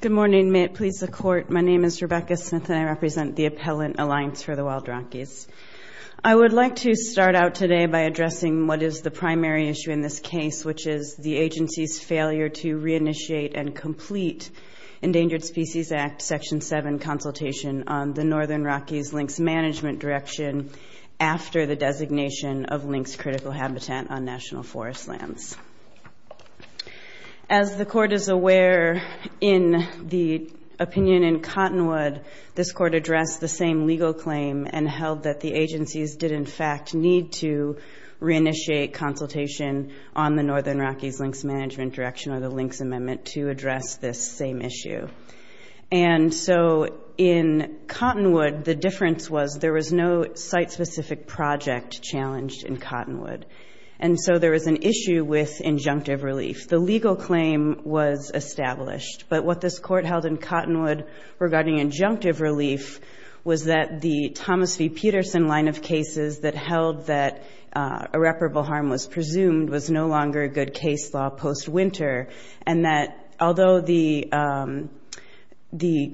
Good morning. May it please the court. My name is Rebecca Smith and I represent the Appellant Alliance for the Wild Rockies. I would like to start out today by addressing what is the primary issue in this case, which is the agency's failure to re-initiate and complete Endangered Species Act Section 7 consultation on the Northern Rockies links management direction after the designation of links critical habitat on national forest lands. As the court is aware in the opinion in Cottonwood, this court addressed the same legal claim and held that the agencies did in fact need to re-initiate consultation on the Northern Rockies links management direction or the links amendment to address this same issue. And so in Cottonwood, the difference was there was no site-specific project challenged in Cottonwood. And so there was an issue with injunctive relief. The legal claim was established, but what this court held in Cottonwood regarding injunctive relief was that the Thomas V. Peterson line of cases that held that irreparable harm was presumed was no longer a good case law post-winter and that although the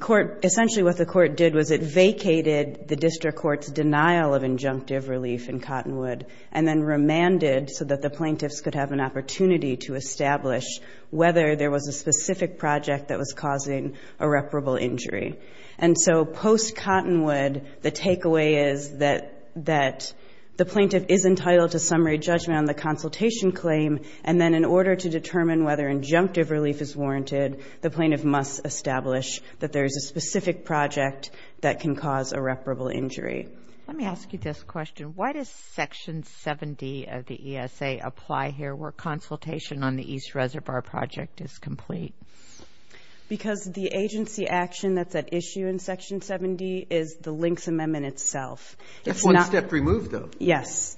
court, essentially what the court did was it vacated the district court's denial of injunctive relief in Cottonwood and then remanded so that the plaintiffs could have an opportunity to establish whether there was a specific project that was causing irreparable injury. And so post-Cottonwood, the takeaway is that the plaintiff is entitled to summary judgment on the consultation claim and then in order to determine whether injunctive relief is warranted, the plaintiff must establish that there is a specific project that can cause irreparable injury. Let me ask you this question. Why does Section 7D of the ESA apply here where consultation on the East Reservoir Project is complete? Because the agency action that's at issue in Section 7D is the links amendment itself. It's one step removed, though. Yes.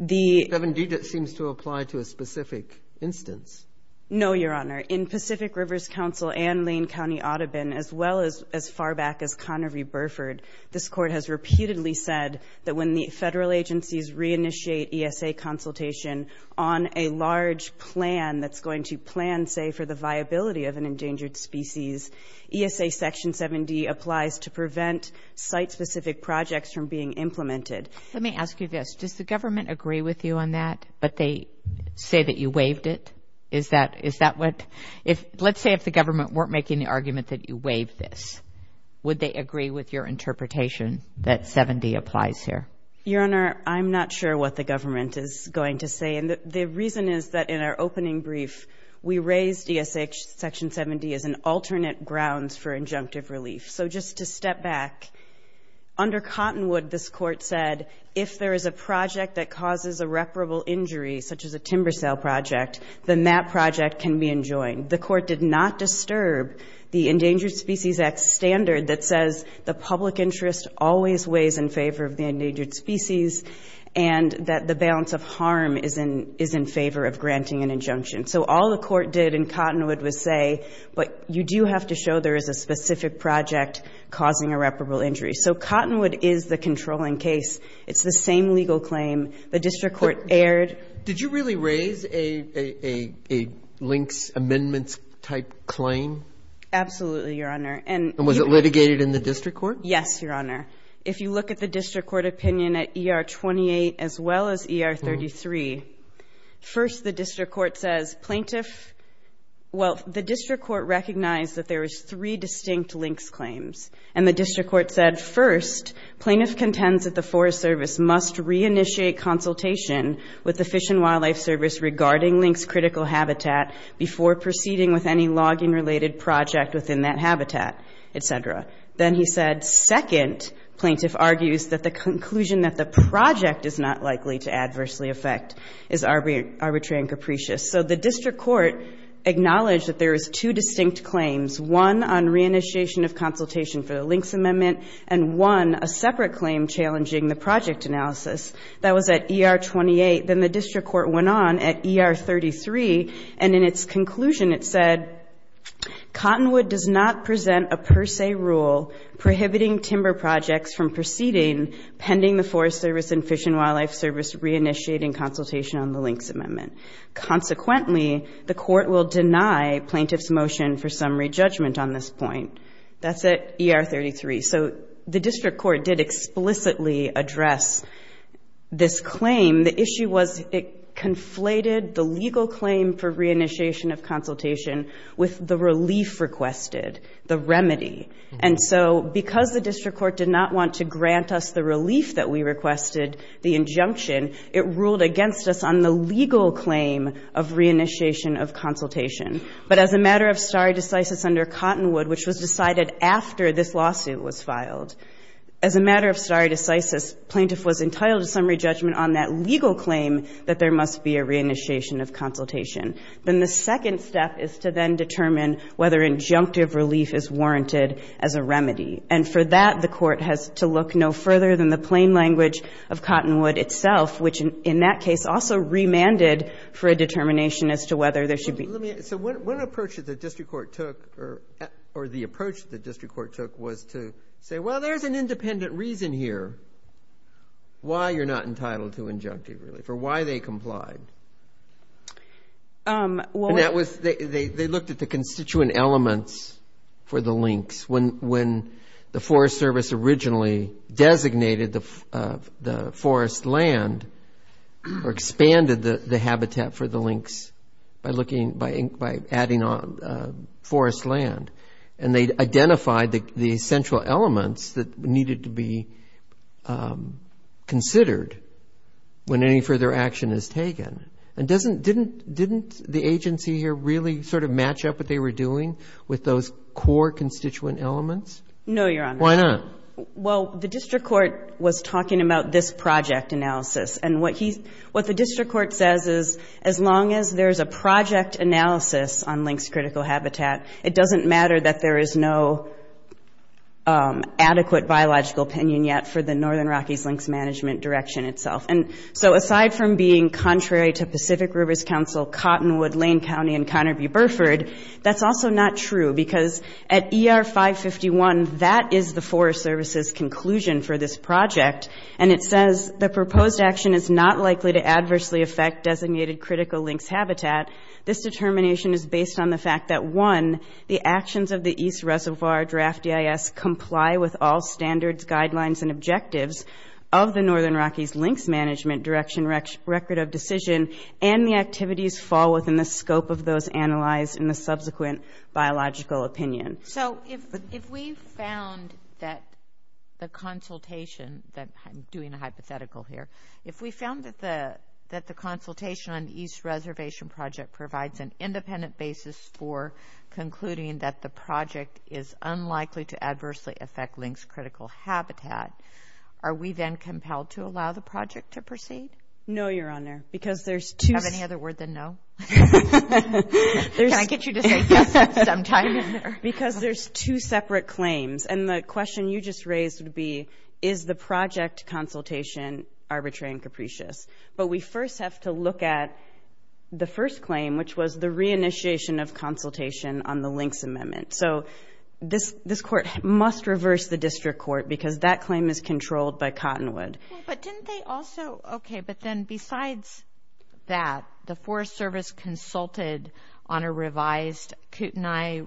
7D seems to apply to a specific instance. No, Your Honor. In Pacific Rivers Council and Lane County Audubon, as well as as far back as Connery-Burford, this Court has repeatedly said that when the federal agencies reinitiate ESA consultation on a large plan that's going to plan, say, for the viability of an endangered species, ESA Section 7D applies to prevent site-specific projects from being implemented. Let me ask you this. Does the government agree with you on that, but they say that you waived it? Is that what? Let's say if the government weren't making the argument that you waived this, would they agree with your interpretation that 7D applies here? Your Honor, I'm not sure what the government is going to say. And the reason is that in our opening brief, we raised ESA Section 7D as an alternate grounds for injunctive relief. So just to step back, under Cottonwood, this Court said if there is a project that causes a reparable injury, such as a timber sale project, then that project can be enjoined. The Court did not disturb the Endangered Species Act standard that says the public interest always weighs in favor of the endangered species and that the balance of harm is in favor of granting an injunction. So all the Court did in Cottonwood was say, but you do have to show there is a specific project causing a reparable injury. So Cottonwood is the controlling case. It's the same legal claim. The district court erred. Did you really raise a links amendments type claim? Absolutely, Your Honor. And was it litigated in the district court? Yes, Your Honor. If you look at the district court opinion at ER 28 as well as ER 33, first the district court says plaintiff, well, the district court recognized that there was three distinct links claims. And the district court said, first, plaintiff contends that the Forest Service must reinitiate consultation with the Fish and Wildlife Service regarding links critical habitat before proceeding with any logging-related project within that habitat, et cetera. Then he said, second, plaintiff argues that the conclusion that the project is not likely to adversely affect is arbitrary and capricious. So the district court acknowledged that there is two distinct claims, one on reinitiation of consultation for the project analysis. That was at ER 28. Then the district court went on at ER 33, and in its conclusion it said, Cottonwood does not present a per se rule prohibiting timber projects from proceeding pending the Forest Service and Fish and Wildlife Service reinitiating consultation on the links amendment. Consequently, the court will deny plaintiff's motion for summary judgment on this point. That's at ER 33. So the district court did explicitly address this claim. The issue was it conflated the legal claim for reinitiation of consultation with the relief requested, the remedy. And so because the district court did not want to grant us the relief that we requested, the injunction, it ruled against us on the legal claim of reinitiation of consultation. But as a matter of stare decisis under Cottonwood, which was decided after this lawsuit was filed, as a matter of stare decisis, plaintiff was entitled to summary judgment on that legal claim that there must be a reinitiation of consultation. Then the second step is to then determine whether injunctive relief is warranted as a remedy. And for that, the court has to look no further than the plain language of Cottonwood itself, which in that case also remanded for a determination as to whether there should be. Let me say one approach that the district court took or the approach the district court took was to say, well, there's an independent reason here why you're not entitled to injunctive relief or why they complied. That was they looked at the constituent elements for the links when the Forest Service originally designated the forest land or expanded the habitat for the links by looking, by adding on forest land. And they identified the essential elements that needed to be considered when any further action is taken. And didn't the agency here really sort of match up what they were doing with those core constituent elements? No, Your Honor. Why not? Well, the district court was talking about this project analysis. And what the district court says is as long as there's a project analysis on links critical habitat, it doesn't matter that there is no adequate biological opinion yet for the Northern Rockies links management direction itself. And so aside from being contrary to Pacific Rivers Council, Cottonwood, Lane County and Cotterview-Burford, that's also not true because at ER 551 that is the Forest Service's conclusion for this project. And it says the proposed action is not likely to adversely affect designated critical links habitat. This determination is based on the fact that one, the actions of the East Reservoir Draft EIS comply with all standards, guidelines and objectives of the Northern Rockies links management direction record of decision and the activities fall within the scope of those analyzed in the subsequent biological opinion. So if we found that the consultation, I'm doing a hypothetical here, if we found that the consultation on the East Reservation project provides an independent basis for concluding that the project is unlikely to adversely affect links critical habitat, are we then compelled to allow the project to proceed? No, Your Honor, because there's two... Do you have any other word than no? Can I get you to say yes at some time in there? Because there's two separate claims and the question you just raised would be, is the project consultation arbitrary and capricious? But we first have to look at the first claim, which was the re-initiation of consultation on the links amendment. So this court must reverse the district court because that claim is controlled by Cottonwood. But didn't they also... Okay, but then besides that, the Forest Service consulted on a revised Kootenai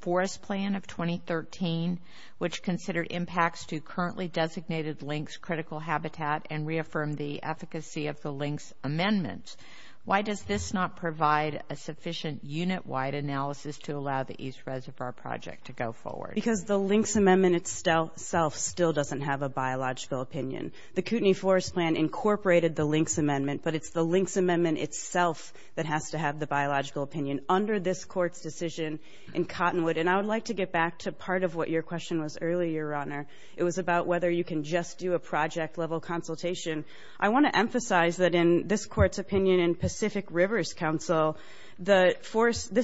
forest plan of 2013, which considered impacts to currently designated links critical habitat and reaffirmed the efficacy of the links amendment. Why does this not provide a sufficient unit-wide analysis to allow the East Reservoir project to go forward? Because the links amendment itself still doesn't have a biological opinion. The Kootenai forest plan incorporated the links amendment, but it's the links amendment itself that has to have the biological opinion under this court's decision in Cottonwood. And I would like to get back to part of what your question was earlier, Your Honor. It was about whether you can just do a project-level consultation. I want to emphasize that in this court's opinion in Pacific Rivers Council, this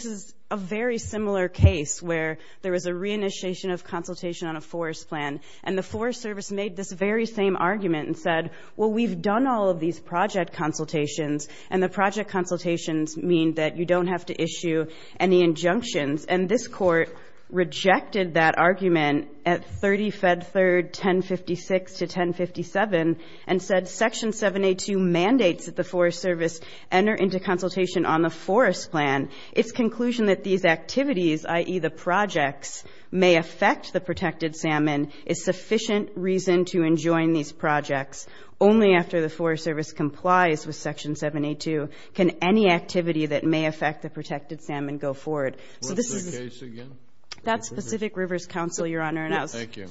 is a very similar case where there was a re-initiation of consultation on a forest plan, and the Forest Service made this very same argument and said, well, we've done all of these project consultations, and the project consultations mean that you don't have to issue any injunctions. And this court rejected that argument at 30 Fed 3rd, 1056 to 1057, and said Section 7A2 mandates that the Forest Service enter into consultation on the forest plan. Its conclusion that these activities, i.e., the projects, may affect the protected salmon is sufficient reason to enjoin these projects. Only after the Forest Service complies with Section 7A2 can any activity that may affect the protected salmon go forward. What's that case again? That's Pacific Rivers Council, Your Honor. Thank you.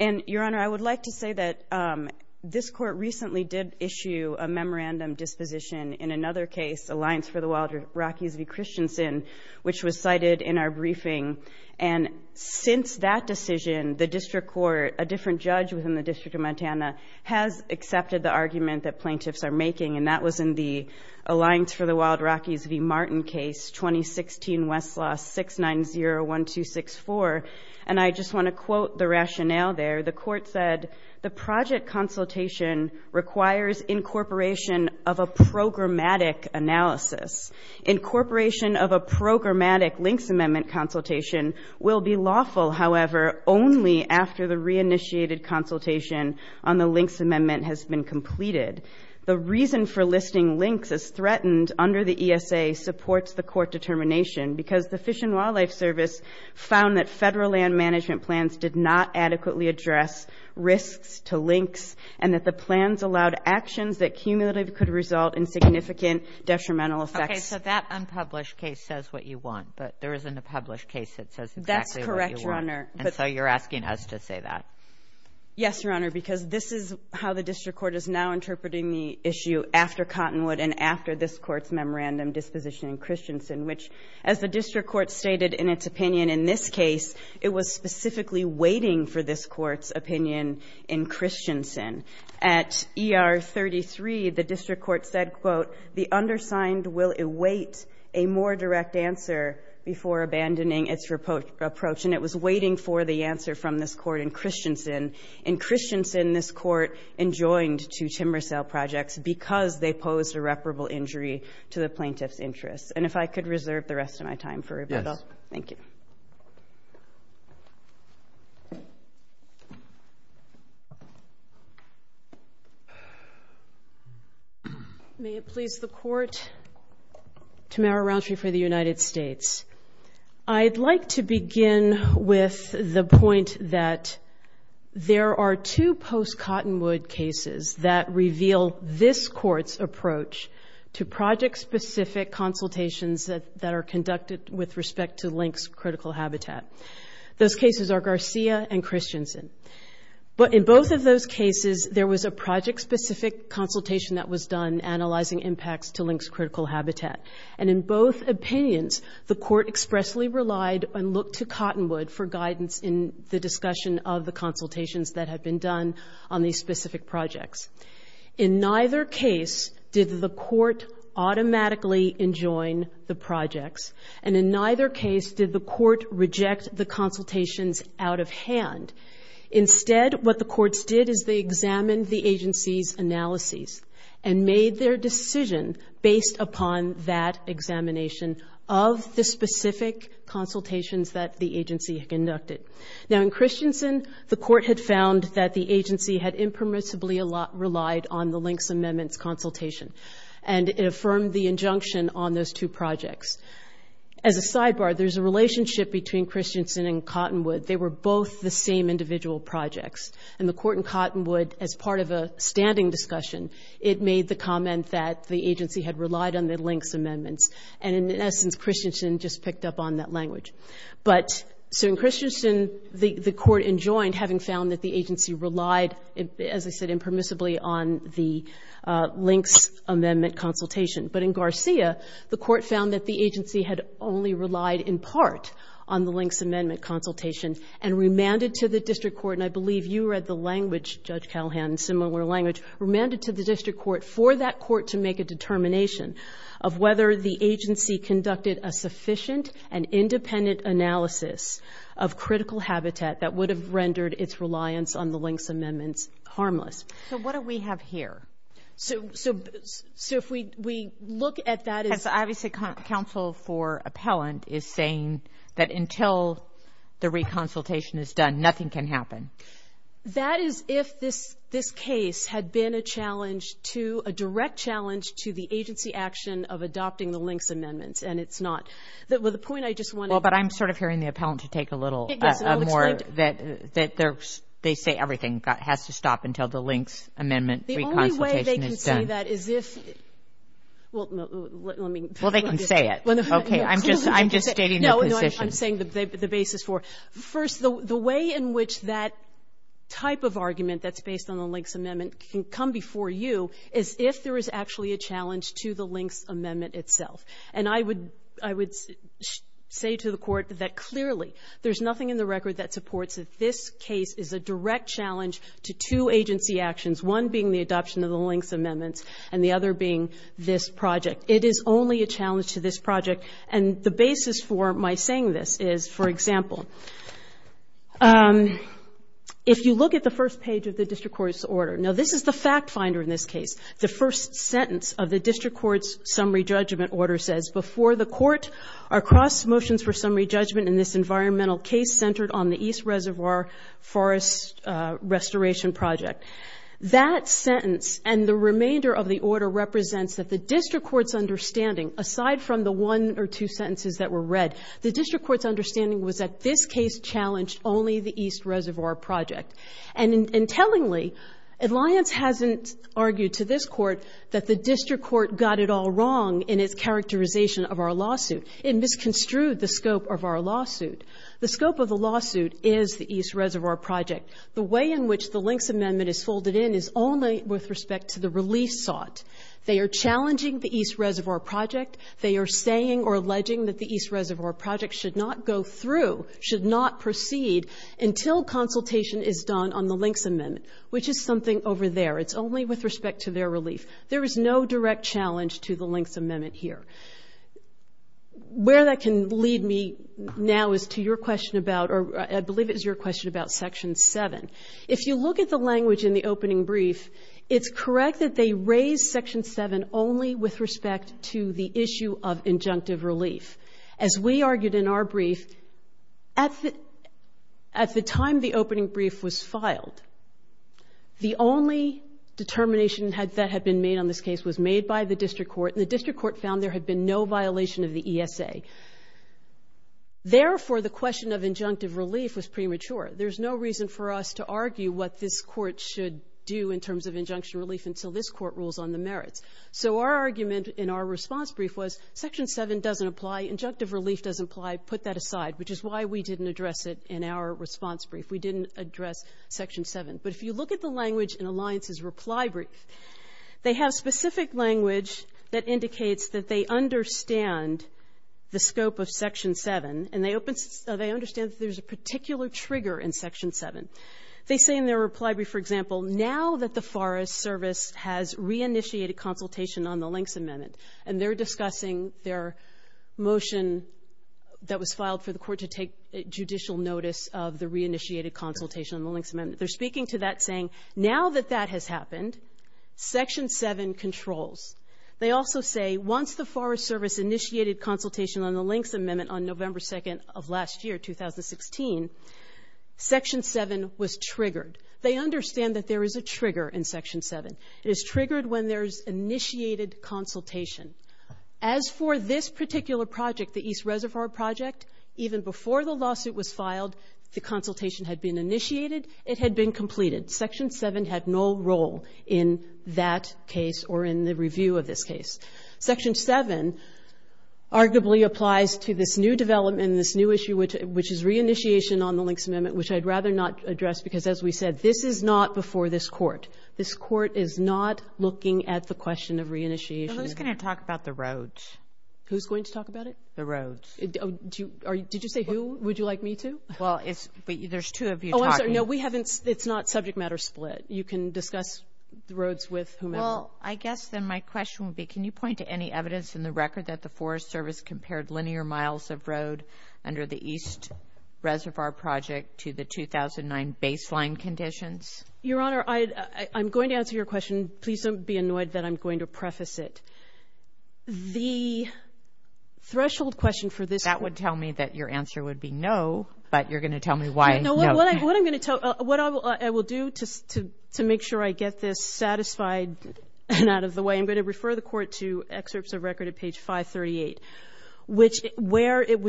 And, Your Honor, I would like to say that this court recently did issue a memorandum disposition in another case, Alliance for the Wild Rockies v. Christensen, which was cited in our briefing. And since that decision, the district court, a different judge within the District of Montana, has accepted the argument that plaintiffs are making, and that was in the Alliance for the Wild Rockies v. Martin case, 2016 Westlaw 6901264. And I just want to quote the rationale there. The court said, the project consultation requires incorporation of a programmatic analysis. Incorporation of a programmatic links amendment consultation will be lawful, however, only after the reinitiated consultation on the links amendment has been completed. The reason for listing links as threatened under the ESA supports the court determination, because the Fish and Wildlife Service found that federal land management plans did not adequately address risks to links, and that the plans allowed actions that cumulatively could result in significant detrimental effects. Okay, so that unpublished case says what you want, but there isn't a published case that says exactly what you want. That's correct, Your Honor. And so you're asking us to say that. Yes, Your Honor, because this is how the district court is now interpreting the issue after Cottonwood and after this Court's memorandum disposition in Christensen, which, as the district court stated in its opinion in this case, it was specifically waiting for this Court's opinion in Christensen. At ER 33, the district court said, quote, the undersigned will await a more direct answer before abandoning its approach, and it was waiting for the answer from this Court in Christensen. In Christensen, this Court enjoined two timber sale projects because they posed irreparable injury to the plaintiff's interests. And if I could reserve the rest of my time for rebuttal. Yes. Thank you. May it please the Court, Tamara Rountree for the United States. I'd like to begin with the point that there are two post-Cottonwood cases that reveal this Court's approach to project-specific consultations that are conducted with respect to Lynx Critical Habitat. Those cases are Garcia and Christensen. But in both of those cases, there was a project-specific consultation that was done analyzing impacts to Lynx Critical Habitat. And in both opinions, the Court expressly relied on look to Cottonwood for guidance in the discussion of the consultations that had been done on these specific projects. In neither case did the Court automatically enjoin the projects, and in neither case did the Court reject the consultations out of hand. Instead, what the courts did is they examined the agency's analyses and made their decision based upon that examination of the specific consultations that the agency had conducted. Now in Christensen, the Court had found that the agency had impermissibly relied on the Lynx amendments consultation. And it affirmed the injunction on those two projects. As a sidebar, there's a relationship between Christensen and Cottonwood. They were both the same individual projects. And the Court in Cottonwood, as part of a standing discussion, it made the comment that the agency had relied on the Lynx amendments. And in essence, Christensen just picked up on that language. But so in Christensen, the Court enjoined, having found that the agency relied, as I said, impermissibly on the Lynx amendment consultation. But in Garcia, the Court found that the agency had only relied in part on the Lynx amendment consultation and remanded to the district court, and I believe you read the language, Judge Callahan, similar language, remanded to the district court for that court to make a determination of whether the agency conducted a sufficient and independent analysis of critical habitat that would have rendered its reliance on the Lynx amendments harmless. So what do we have here? So if we look at that as obviously counsel for appellant is saying that until the reconsultation is done, nothing can happen. That is if this case had been a challenge to, a direct challenge to the agency action of adopting the Lynx amendments, and it's not. The point I just want to make. Well, but I'm sort of hearing the appellant to take a little more, that they say everything has to stop until the Lynx amendment reconsultation is done. The only way they can say that is if, well, let me. Well, they can say it. Okay, I'm just stating the position. No, I'm saying the basis for. First, the way in which that type of argument that's based on the Lynx amendment can come before you is if there is actually a challenge to the Lynx amendment itself. And I would say to the Court that clearly there's nothing in the record that supports that this case is a direct challenge to two agency actions, one being the adoption of the Lynx amendments and the other being this project. It is only a challenge to this project. And the basis for my saying this is, for example, if you look at the first page of the District Court's order. Now, this is the fact finder in this case. The first sentence of the District Court's summary judgment order says, before the Court, our cross motions for summary judgment in this environmental case centered on the East Reservoir Forest Restoration Project. That sentence and the remainder of the order represents that the District Court's understanding was that this case challenged only the East Reservoir Project. And tellingly, Alliance hasn't argued to this Court that the District Court got it all wrong in its characterization of our lawsuit. It misconstrued the scope of our lawsuit. The scope of the lawsuit is the East Reservoir Project. The way in which the Lynx amendment is folded in is only with respect to the release sought. They are challenging the East Reservoir Project. They are saying or alleging that the East Reservoir Project should not go through, should not proceed until consultation is done on the Lynx amendment, which is something over there. It's only with respect to their relief. There is no direct challenge to the Lynx amendment here. Where that can lead me now is to your question about, or I believe it was your question about Section 7. If you look at the language in the opening brief, it's correct that they raise Section 7 only with respect to the issue of injunctive relief. As we argued in our brief, at the time the opening brief was filed, the only determination that had been made on this case was made by the District Court. And the District Court found there had been no violation of the ESA. Therefore, the question of injunctive relief was premature. There's no reason for us to argue what this Court should do in terms of injunction relief until this Court rules on the merits. So our argument in our response brief was Section 7 doesn't apply, injunctive relief doesn't apply, put that aside, which is why we didn't address it in our response brief. We didn't address Section 7. But if you look at the language in Alliance's reply brief, they have specific language that indicates that they understand the scope of Section 7, and they understand that there's a particular trigger in Section 7. They say in their reply brief, for example, now that the Forest Service has reinitiated consultation on the Links Amendment, and they're discussing their motion that was filed for the Court to take judicial notice of the reinitiated consultation on the Links Amendment, they're speaking to that saying now that that has happened, Section 7 controls. They also say once the Forest Service initiated consultation on the Links Amendment on November 2nd of last year, 2016, Section 7 was triggered. They understand that there is a trigger in Section 7. It is triggered when there's initiated consultation. As for this particular project, the East Reservoir Project, even before the lawsuit was filed, the consultation had been initiated, it had been completed. Section 7 had no role in that case or in the review of this case. Section 7 arguably applies to this new development, this new issue, which is reinitiation on the Links Amendment, which I'd rather not address because, as we said, this is not before this Court. This Court is not looking at the question of reinitiation. Who's going to talk about the roads? Who's going to talk about it? The roads. Did you say who would you like me to? Well, there's two of you talking. Oh, I'm sorry. No, we haven't. It's not subject matter split. You can discuss the roads with whomever. Well, I guess then my question would be, can you point to any evidence in the record that the Forest Service compared linear miles of road under the East Reservoir Project to the 2009 baseline conditions? Your Honor, I'm going to answer your question. Please don't be annoyed that I'm going to preface it. The threshold question for this one. That would tell me that your answer would be no, but you're going to tell me why no. What I will do to make sure I get this satisfied and out of the way, I'm going to refer the Court to excerpts of record at page 538, which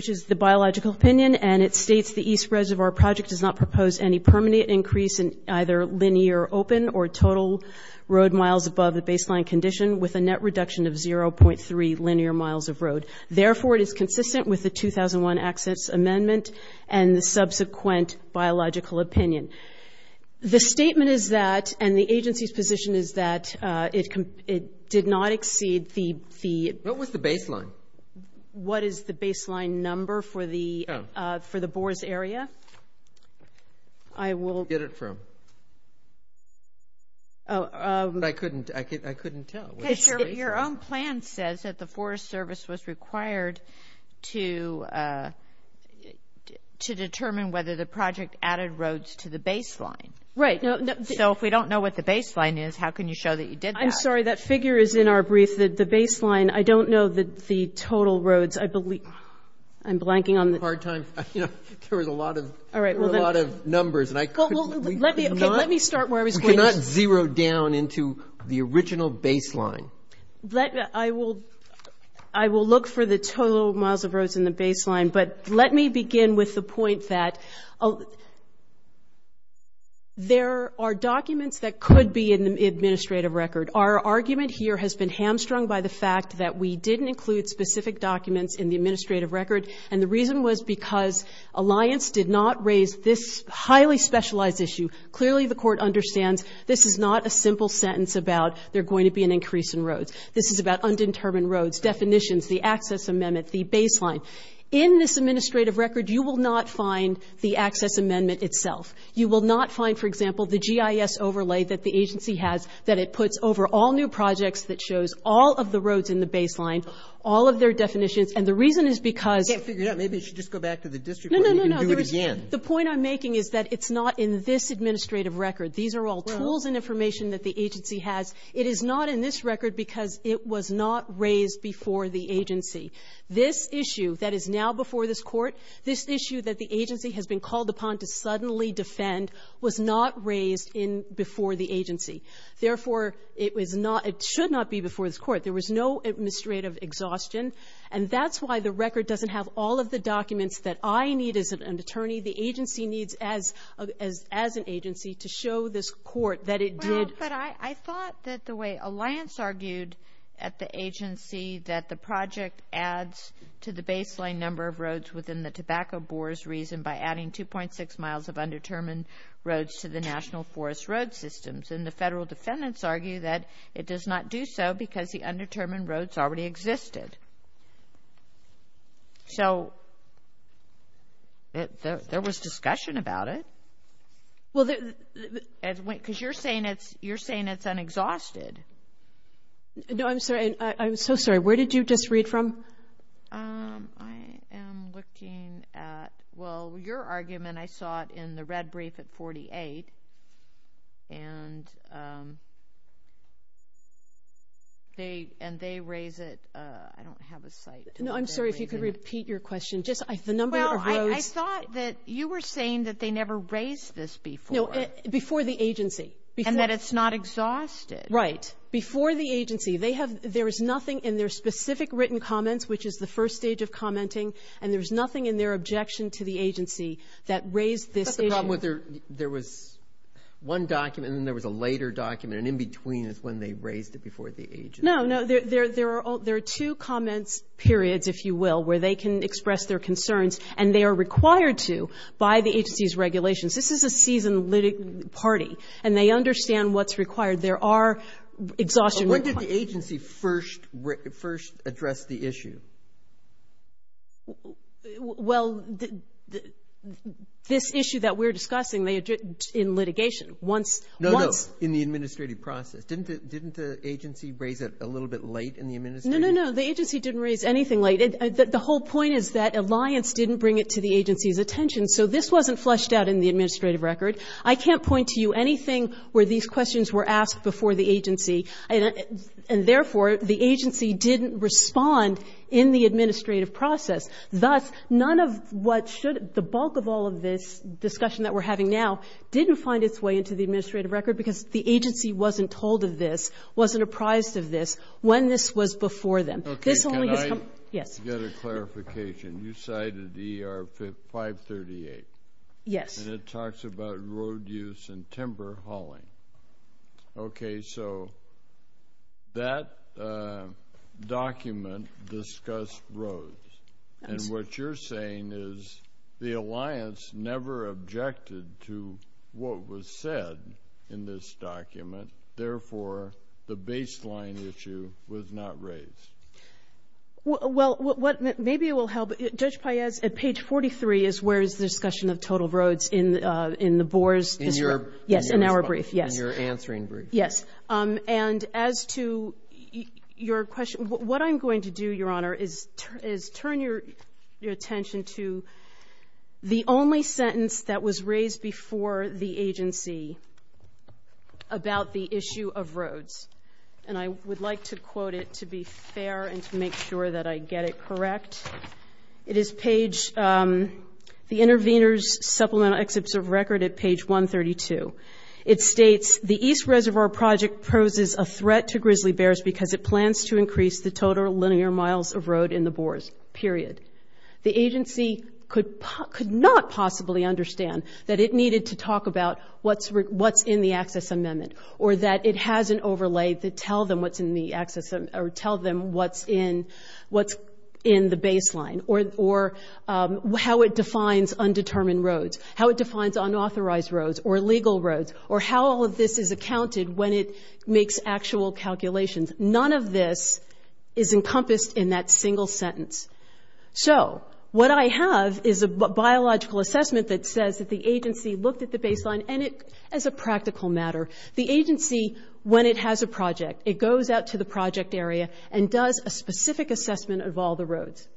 is the biological opinion, and it states the East Reservoir Project does not propose any permanent increase in either linear open or total road miles above the baseline condition with a net reduction of 0.3 linear miles of road. Therefore, it is consistent with the 2001 Access Amendment and the subsequent biological opinion. The statement is that, and the agency's position is that, it did not exceed the the... What was the baseline? What is the baseline number for the Boers area? I will... Where did you get it from? I couldn't tell. Your own plan says that the Forest Service was required to determine whether the project added roads to the baseline. Right. So if we don't know what the baseline is, how can you show that you did that? I'm sorry. That figure is in our brief. The baseline, I don't know the total roads. I'm blanking on the... There was a lot of numbers. Let me start where I was going. It did not zero down into the original baseline. I will look for the total miles of roads in the baseline, but let me begin with the point that there are documents that could be in the administrative record. Our argument here has been hamstrung by the fact that we didn't include specific documents in the administrative record, and the reason was because Alliance did not raise this highly specialized issue. Clearly, the Court understands this is not a simple sentence about there going to be an increase in roads. This is about undetermined roads, definitions, the access amendment, the baseline. In this administrative record, you will not find the access amendment itself. You will not find, for example, the GIS overlay that the agency has that it puts over all new projects that shows all of the roads in the baseline, all of their definitions. And the reason is because... Maybe you should just go back to the district court and do it again. The point I'm making is that it's not in this administrative record. These are all tools and information that the agency has. It is not in this record because it was not raised before the agency. This issue that is now before this Court, this issue that the agency has been called upon to suddenly defend, was not raised before the agency. Therefore, it was not, it should not be before this Court. There was no administrative exhaustion, and that's why the record doesn't have all of the documents that I need as an attorney, the agency needs as an agency, to show this Court that it did. Well, but I thought that the way Alliance argued at the agency that the project adds to the baseline number of roads within the tobacco bores reason by adding 2.6 miles of undetermined roads to the National Forest Road systems. And the federal defendants argue that it does not do so because the undetermined roads already existed. So, there was discussion about it? Well, because you're saying it's unexhausted. No, I'm sorry. I'm so sorry. Where did you just read from? I am looking at, well, your argument, I saw it in the red brief at 48, and they raise it. I don't have a cite. No, I'm sorry. If you could repeat your question. Well, I thought that you were saying that they never raised this before. No, before the agency. And that it's not exhausted. Right. Before the agency. There is nothing in their specific written comments, which is the first stage of commenting, and there's nothing in their objection to the agency that raised this issue. There was one document, and then there was a later document, and in between is when they raised it before the agency. No, no. There are two comments periods, if you will, where they can express their concerns, and they are required to by the agency's regulations. This is a season-leading party, and they understand what's required. There are exhaustion requirements. When did the agency first address the issue? Well, this issue that we're discussing, in litigation, once. No, no. In the administrative process. Didn't the agency raise it a little bit late in the administration? No, no, no. The agency didn't raise anything late. The whole point is that Alliance didn't bring it to the agency's attention, so this wasn't fleshed out in the administrative record. I can't point to you anything where these questions were asked before the agency, and, therefore, the agency didn't respond in the administrative process. Thus, none of what should the bulk of all of this discussion that we're having now didn't find its way into the administrative record because the agency wasn't told of this, wasn't apprised of this, when this was before them. Okay. Can I get a clarification? You cited ER 538. Yes. And it talks about road use and timber hauling. Okay. So that document discussed roads. And what you're saying is the Alliance never objected to what was said in this document, therefore, the baseline issue was not raised. Well, what maybe will help, Judge Paez, at page 43 is where is the discussion of total roads in the Boers' history. In your response. In my brief, yes. In your answering brief. Yes. And as to your question, what I'm going to do, Your Honor, is turn your attention to the only sentence that was raised before the agency about the issue of roads. And I would like to quote it to be fair and to make sure that I get it correct. It is page the intervener's supplemental excerpts of record at page 132. It states, the East Reservoir Project poses a threat to grizzly bears because it plans to increase the total linear miles of road in the Boers, period. The agency could not possibly understand that it needed to talk about what's in the access amendment or that it has an overlay to tell them what's in the access or tell them what's in the baseline or how it defines undetermined roads, how it defines unauthorized roads or illegal roads or how all of this is accounted when it makes actual calculations. None of this is encompassed in that single sentence. So what I have is a biological assessment that says that the agency looked at the baseline and it, as a practical matter, the agency, when it has a project, it goes out to the project area and does a specific assessment of all the roads.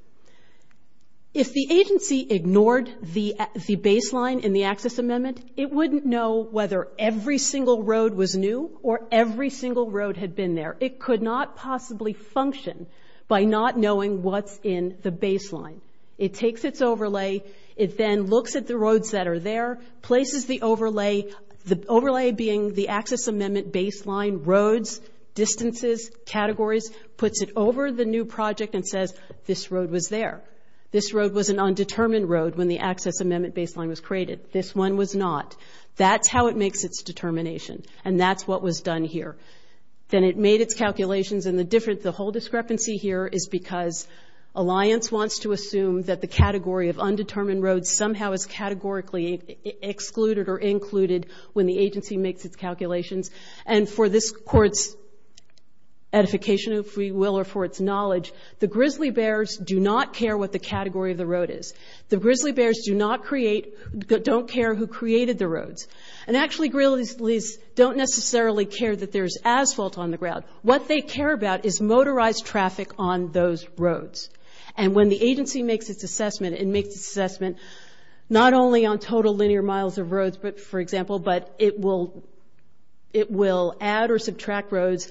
If the agency ignored the baseline in the access amendment, it wouldn't know whether every single road was new or every single road had been there. It could not possibly function by not knowing what's in the baseline. It takes its overlay. It then looks at the roads that are there, places the overlay, the overlay being the access amendment baseline, roads, distances, categories, puts it over the new project and says, this road was there. This road was an undetermined road when the access amendment baseline was created. This one was not. That's how it makes its determination, and that's what was done here. Then it made its calculations. And the whole discrepancy here is because Alliance wants to assume that the category of undetermined roads somehow is categorically excluded or included when the agency makes its calculations. And for this Court's edification, if we will, or for its knowledge, the grizzly bears do not care what the category of the road is. The grizzly bears do not create, don't care who created the roads. And actually, grizzlies don't necessarily care that there's asphalt on the ground. What they care about is motorized traffic on those roads. And when the agency makes its assessment, it makes its assessment not only on total linear miles of roads, for example, but it will add or subtract roads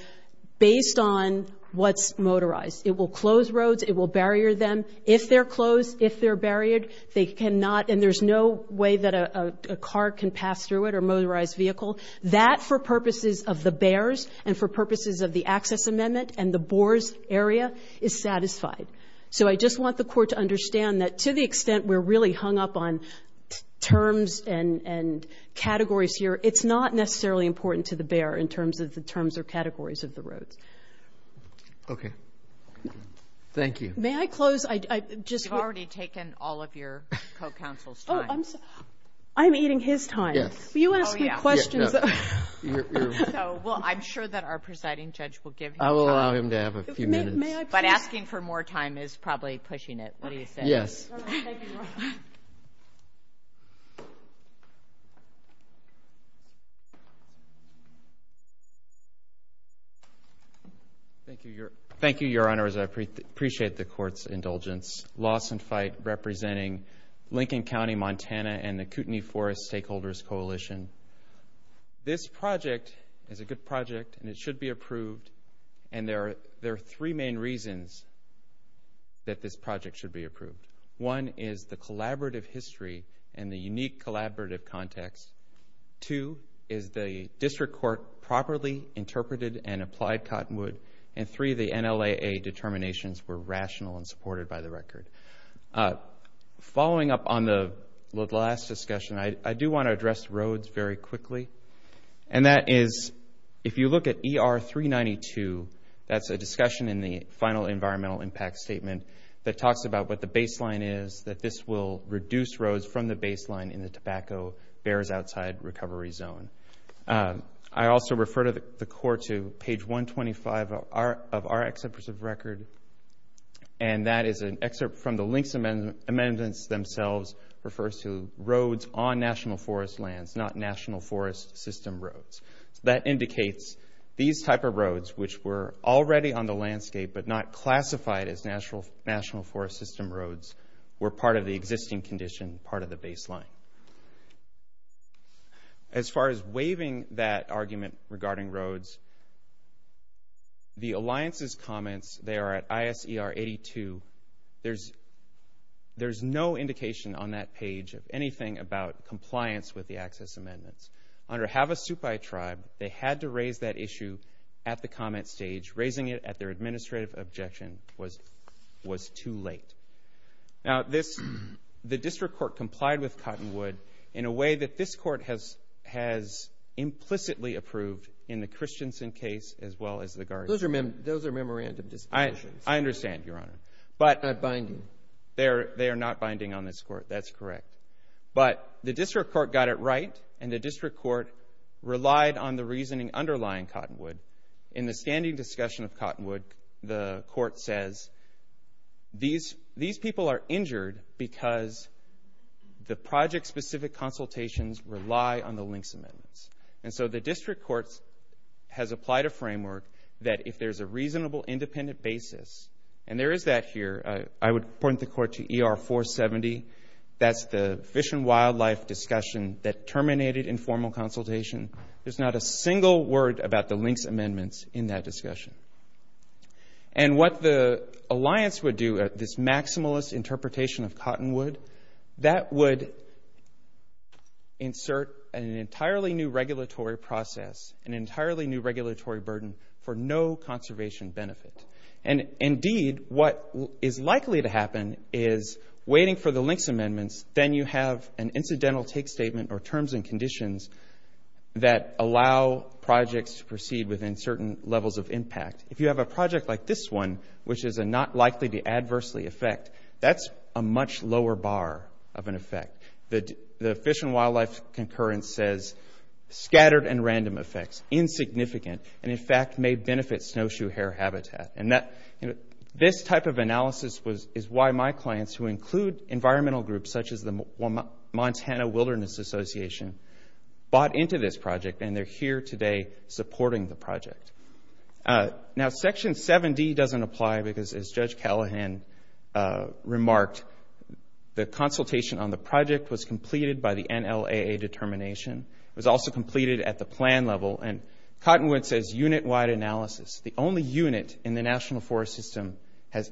based on what's motorized. It will close roads. It will barrier them. If they're closed, if they're barriered, they cannot, and there's no way that a car can pass through it or a motorized vehicle. That, for purposes of the bears and for purposes of the access amendment and the Boers area, is satisfied. So I just want the Court to understand that, to the extent we're really hung up on terms and categories here, it's not necessarily important to the bear in terms of the terms or categories of the roads. Okay. Thank you. May I close? You've already taken all of your co-counsel's time. Oh, I'm eating his time. Yes. If you ask me questions, I'm sure that our presiding judge will give you time. I will allow him to have a few minutes. But asking for more time is probably pushing it. What do you say? Yes. Thank you, Your Honors. I appreciate the Court's indulgence. representing Lincoln County, Montana, and the Kootenai Forest Stakeholders Coalition. This project is a good project, and it should be approved. And there are three main reasons that this project should be approved. One is the collaborative history and the unique collaborative context. Two is the district court properly interpreted and applied Cottonwood. And three, the NLAA determinations were rational and supported by the record. Following up on the last discussion, I do want to address roads very quickly. And that is, if you look at ER 392, that's a discussion in the final environmental impact statement that talks about what the baseline is, that this will reduce roads from the baseline in the tobacco bears outside recovery zone. I also refer the Court to page 125 of our executive record, and that is an excerpt from the Links Amendments themselves. It refers to roads on national forest lands, not national forest system roads. That indicates these type of roads, which were already on the landscape but not classified as national forest system roads, were part of the existing condition, part of the baseline. As far as waiving that argument regarding roads, the Alliance's comments there at ISER 82, there's no indication on that page of anything about compliance with the Access Amendments. Under Havasupai Tribe, they had to raise that issue at the comment stage. Raising it at their administrative objection was too late. Now, the District Court complied with Cottonwood in a way that this Court has implicitly approved in the Christensen case as well as the Gardner case. Those are memorandum discussions. I understand, Your Honor. Not binding. They are not binding on this Court. That's correct. But the District Court got it right, and the District Court relied on the reasoning underlying Cottonwood. In the standing discussion of Cottonwood, the Court says these people are injured because the project-specific consultations rely on the links amendments. And so the District Court has applied a framework that if there's a reasonable independent basis, and there is that here, I would point the Court to ER 470. That's the fish and wildlife discussion that terminated informal consultation. There's not a single word about the links amendments in that discussion. And what the alliance would do, this maximalist interpretation of Cottonwood, that would insert an entirely new regulatory process, an entirely new regulatory burden for no conservation benefit. And indeed, what is likely to happen is waiting for the links amendments, then you have an incidental take statement or terms and conditions that allow projects to proceed within certain levels of impact. If you have a project like this one, which is not likely to adversely affect, that's a much lower bar of an effect. The fish and wildlife concurrence says scattered and random effects, insignificant, and, in fact, may benefit snowshoe hare habitat. And this type of analysis is why my clients, who include environmental groups such as the Montana Wilderness Association, bought into this project, and they're here today supporting the project. Now, Section 7D doesn't apply because, as Judge Callahan remarked, the consultation on the project was completed by the NLAA determination. It was also completed at the plan level. And Cottonwood says unit-wide analysis. The only unit in the national forest system has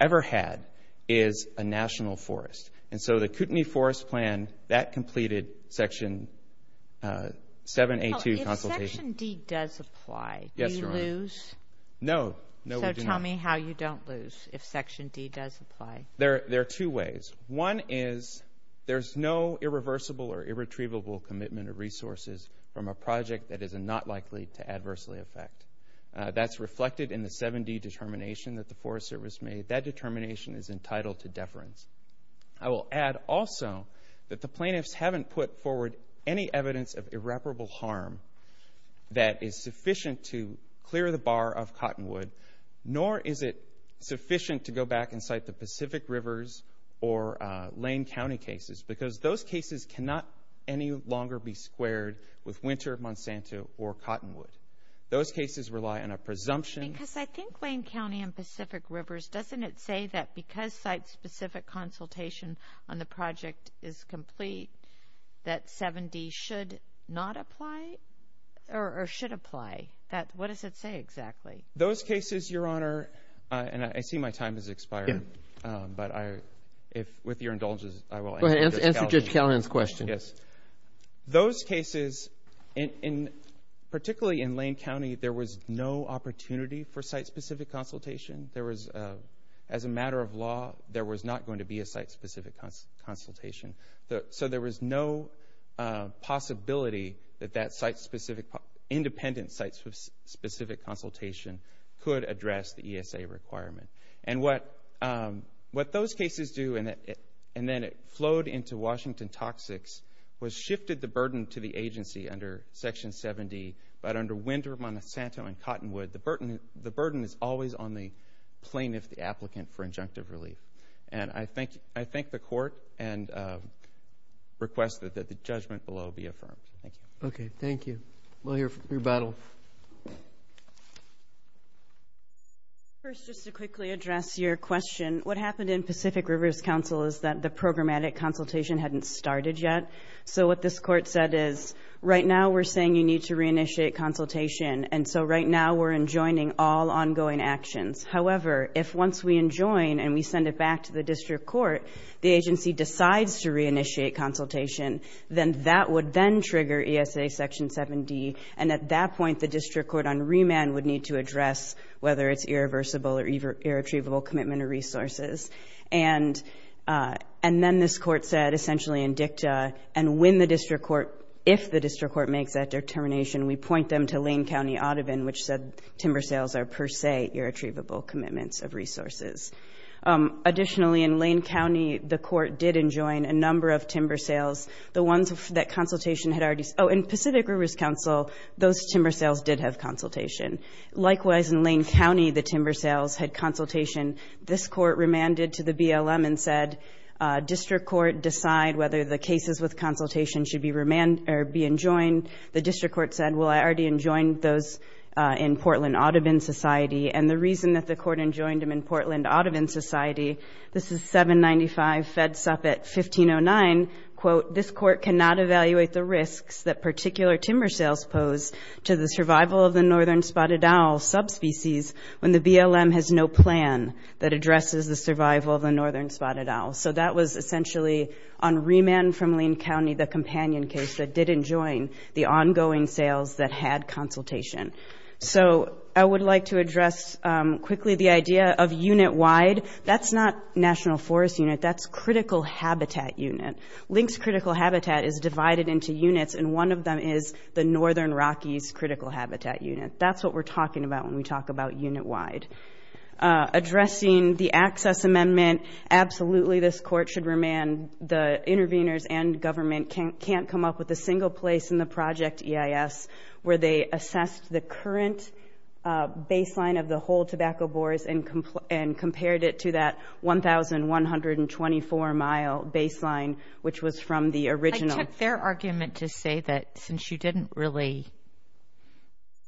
ever had is a national forest. And so the Kootenai Forest Plan, that completed Section 7A2 consultation. If Section D does apply, do you lose? No, we do not. So tell me how you don't lose if Section D does apply. There are two ways. One is there's no irreversible or irretrievable commitment of resources from a project that is not likely to adversely affect. That's reflected in the 7D determination that the Forest Service made. That determination is entitled to deference. I will add also that the plaintiffs haven't put forward any evidence of irreparable harm that is sufficient to clear the bar of Cottonwood, nor is it sufficient to go back and cite the Pacific Rivers or Lane County cases, because those cases cannot any longer be squared with Winter of Monsanto or Cottonwood. Those cases rely on a presumption. Because I think Lane County and Pacific Rivers, doesn't it say that because site-specific consultation on the project is complete, that 7D should not apply or should apply? What does it say exactly? Those cases, Your Honor, and I see my time has expired. But with your indulgence, I will answer Judge Callahan's question. Those cases, particularly in Lane County, there was no opportunity for site-specific consultation. As a matter of law, there was not going to be a site-specific consultation. So there was no possibility that that independent site-specific consultation could address the ESA requirement. And what those cases do, and then it flowed into Washington Toxics, was shifted the burden to the agency under Section 7D. But under Winter of Monsanto and Cottonwood, the burden is always on the plaintiff, the applicant, for injunctive relief. And I thank the Court and request that the judgment below be affirmed. Thank you. Okay, thank you. We'll hear from your battle. First, just to quickly address your question, what happened in Pacific Rivers Council is that the programmatic consultation hadn't started yet. So what this Court said is, right now we're saying you need to reinitiate consultation, and so right now we're enjoining all ongoing actions. However, if once we enjoin and we send it back to the District Court, the agency decides to reinitiate consultation, then that would then trigger ESA Section 7D. And at that point, the District Court on remand would need to address whether it's irreversible or irretrievable commitment of resources. And then this Court said, essentially in dicta, and if the District Court makes that determination, we point them to Lane County Audubon, which said timber sales are per se irretrievable commitments of resources. Additionally, in Lane County, the Court did enjoin a number of timber sales. The ones that consultation had already... Oh, in Pacific Rivers Council, those timber sales did have consultation. Likewise, in Lane County, the timber sales had consultation. This Court remanded to the BLM and said, District Court, decide whether the cases with consultation should be enjoined. The District Court said, well, I already enjoined those in Portland Audubon Society, and the reason that the Court enjoined them in Portland Audubon Society, this is 795 Fed Suppet 1509, quote, this Court cannot evaluate the risks that particular timber sales pose to the survival of the northern spotted owl subspecies when the BLM has no plan that addresses the survival of the northern spotted owl. So that was essentially on remand from Lane County, the companion case that did enjoin the ongoing sales that had consultation. So I would like to address quickly the idea of unit-wide. That's not National Forest Unit. That's Critical Habitat Unit. Lynx Critical Habitat is divided into units, and one of them is the Northern Rockies Critical Habitat Unit. That's what we're talking about when we talk about unit-wide. Addressing the access amendment, absolutely this Court should remand. The interveners and government can't come up with a single place in the project EIS where they assessed the current baseline of the whole tobacco bores and compared it to that 1,124-mile baseline, which was from the original. I took their argument to say that since you didn't really,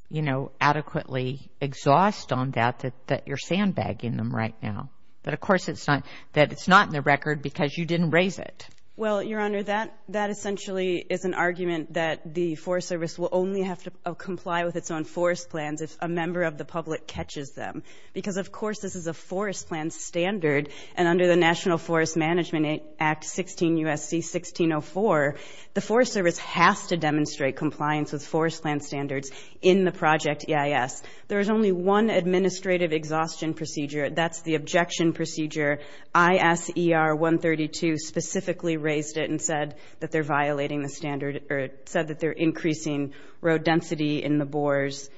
you know, adequately exhaust on that, that you're sandbagging them right now, that of course it's not in the record because you didn't raise it. Well, Your Honor, that essentially is an argument that the Forest Service will only have to comply with its own forest plans if a member of the public catches them because, of course, this is a forest plan standard, and under the National Forest Management Act 16 U.S.C. 1604, the Forest Service has to demonstrate compliance with forest plan standards in the project EIS. There is only one administrative exhaustion procedure. That's the objection procedure. ISER 132 specifically raised it and said that they're violating the standard or said that they're increasing row density in the bores.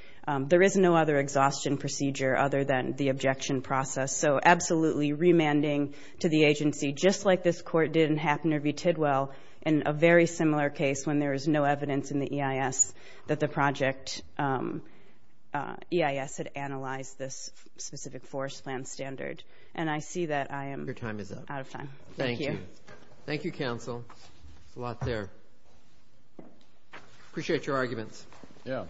There is no other exhaustion procedure other than the objection process, so absolutely remanding to the agency, just like this court did in Haffner v. Tidwell in a very similar case when there was no evidence in the EIS that the project EIS had analyzed this specific forest plan standard. And I see that I am out of time. Thank you. Thank you, counsel. There's a lot there. I appreciate your arguments. Yeah. Thank you.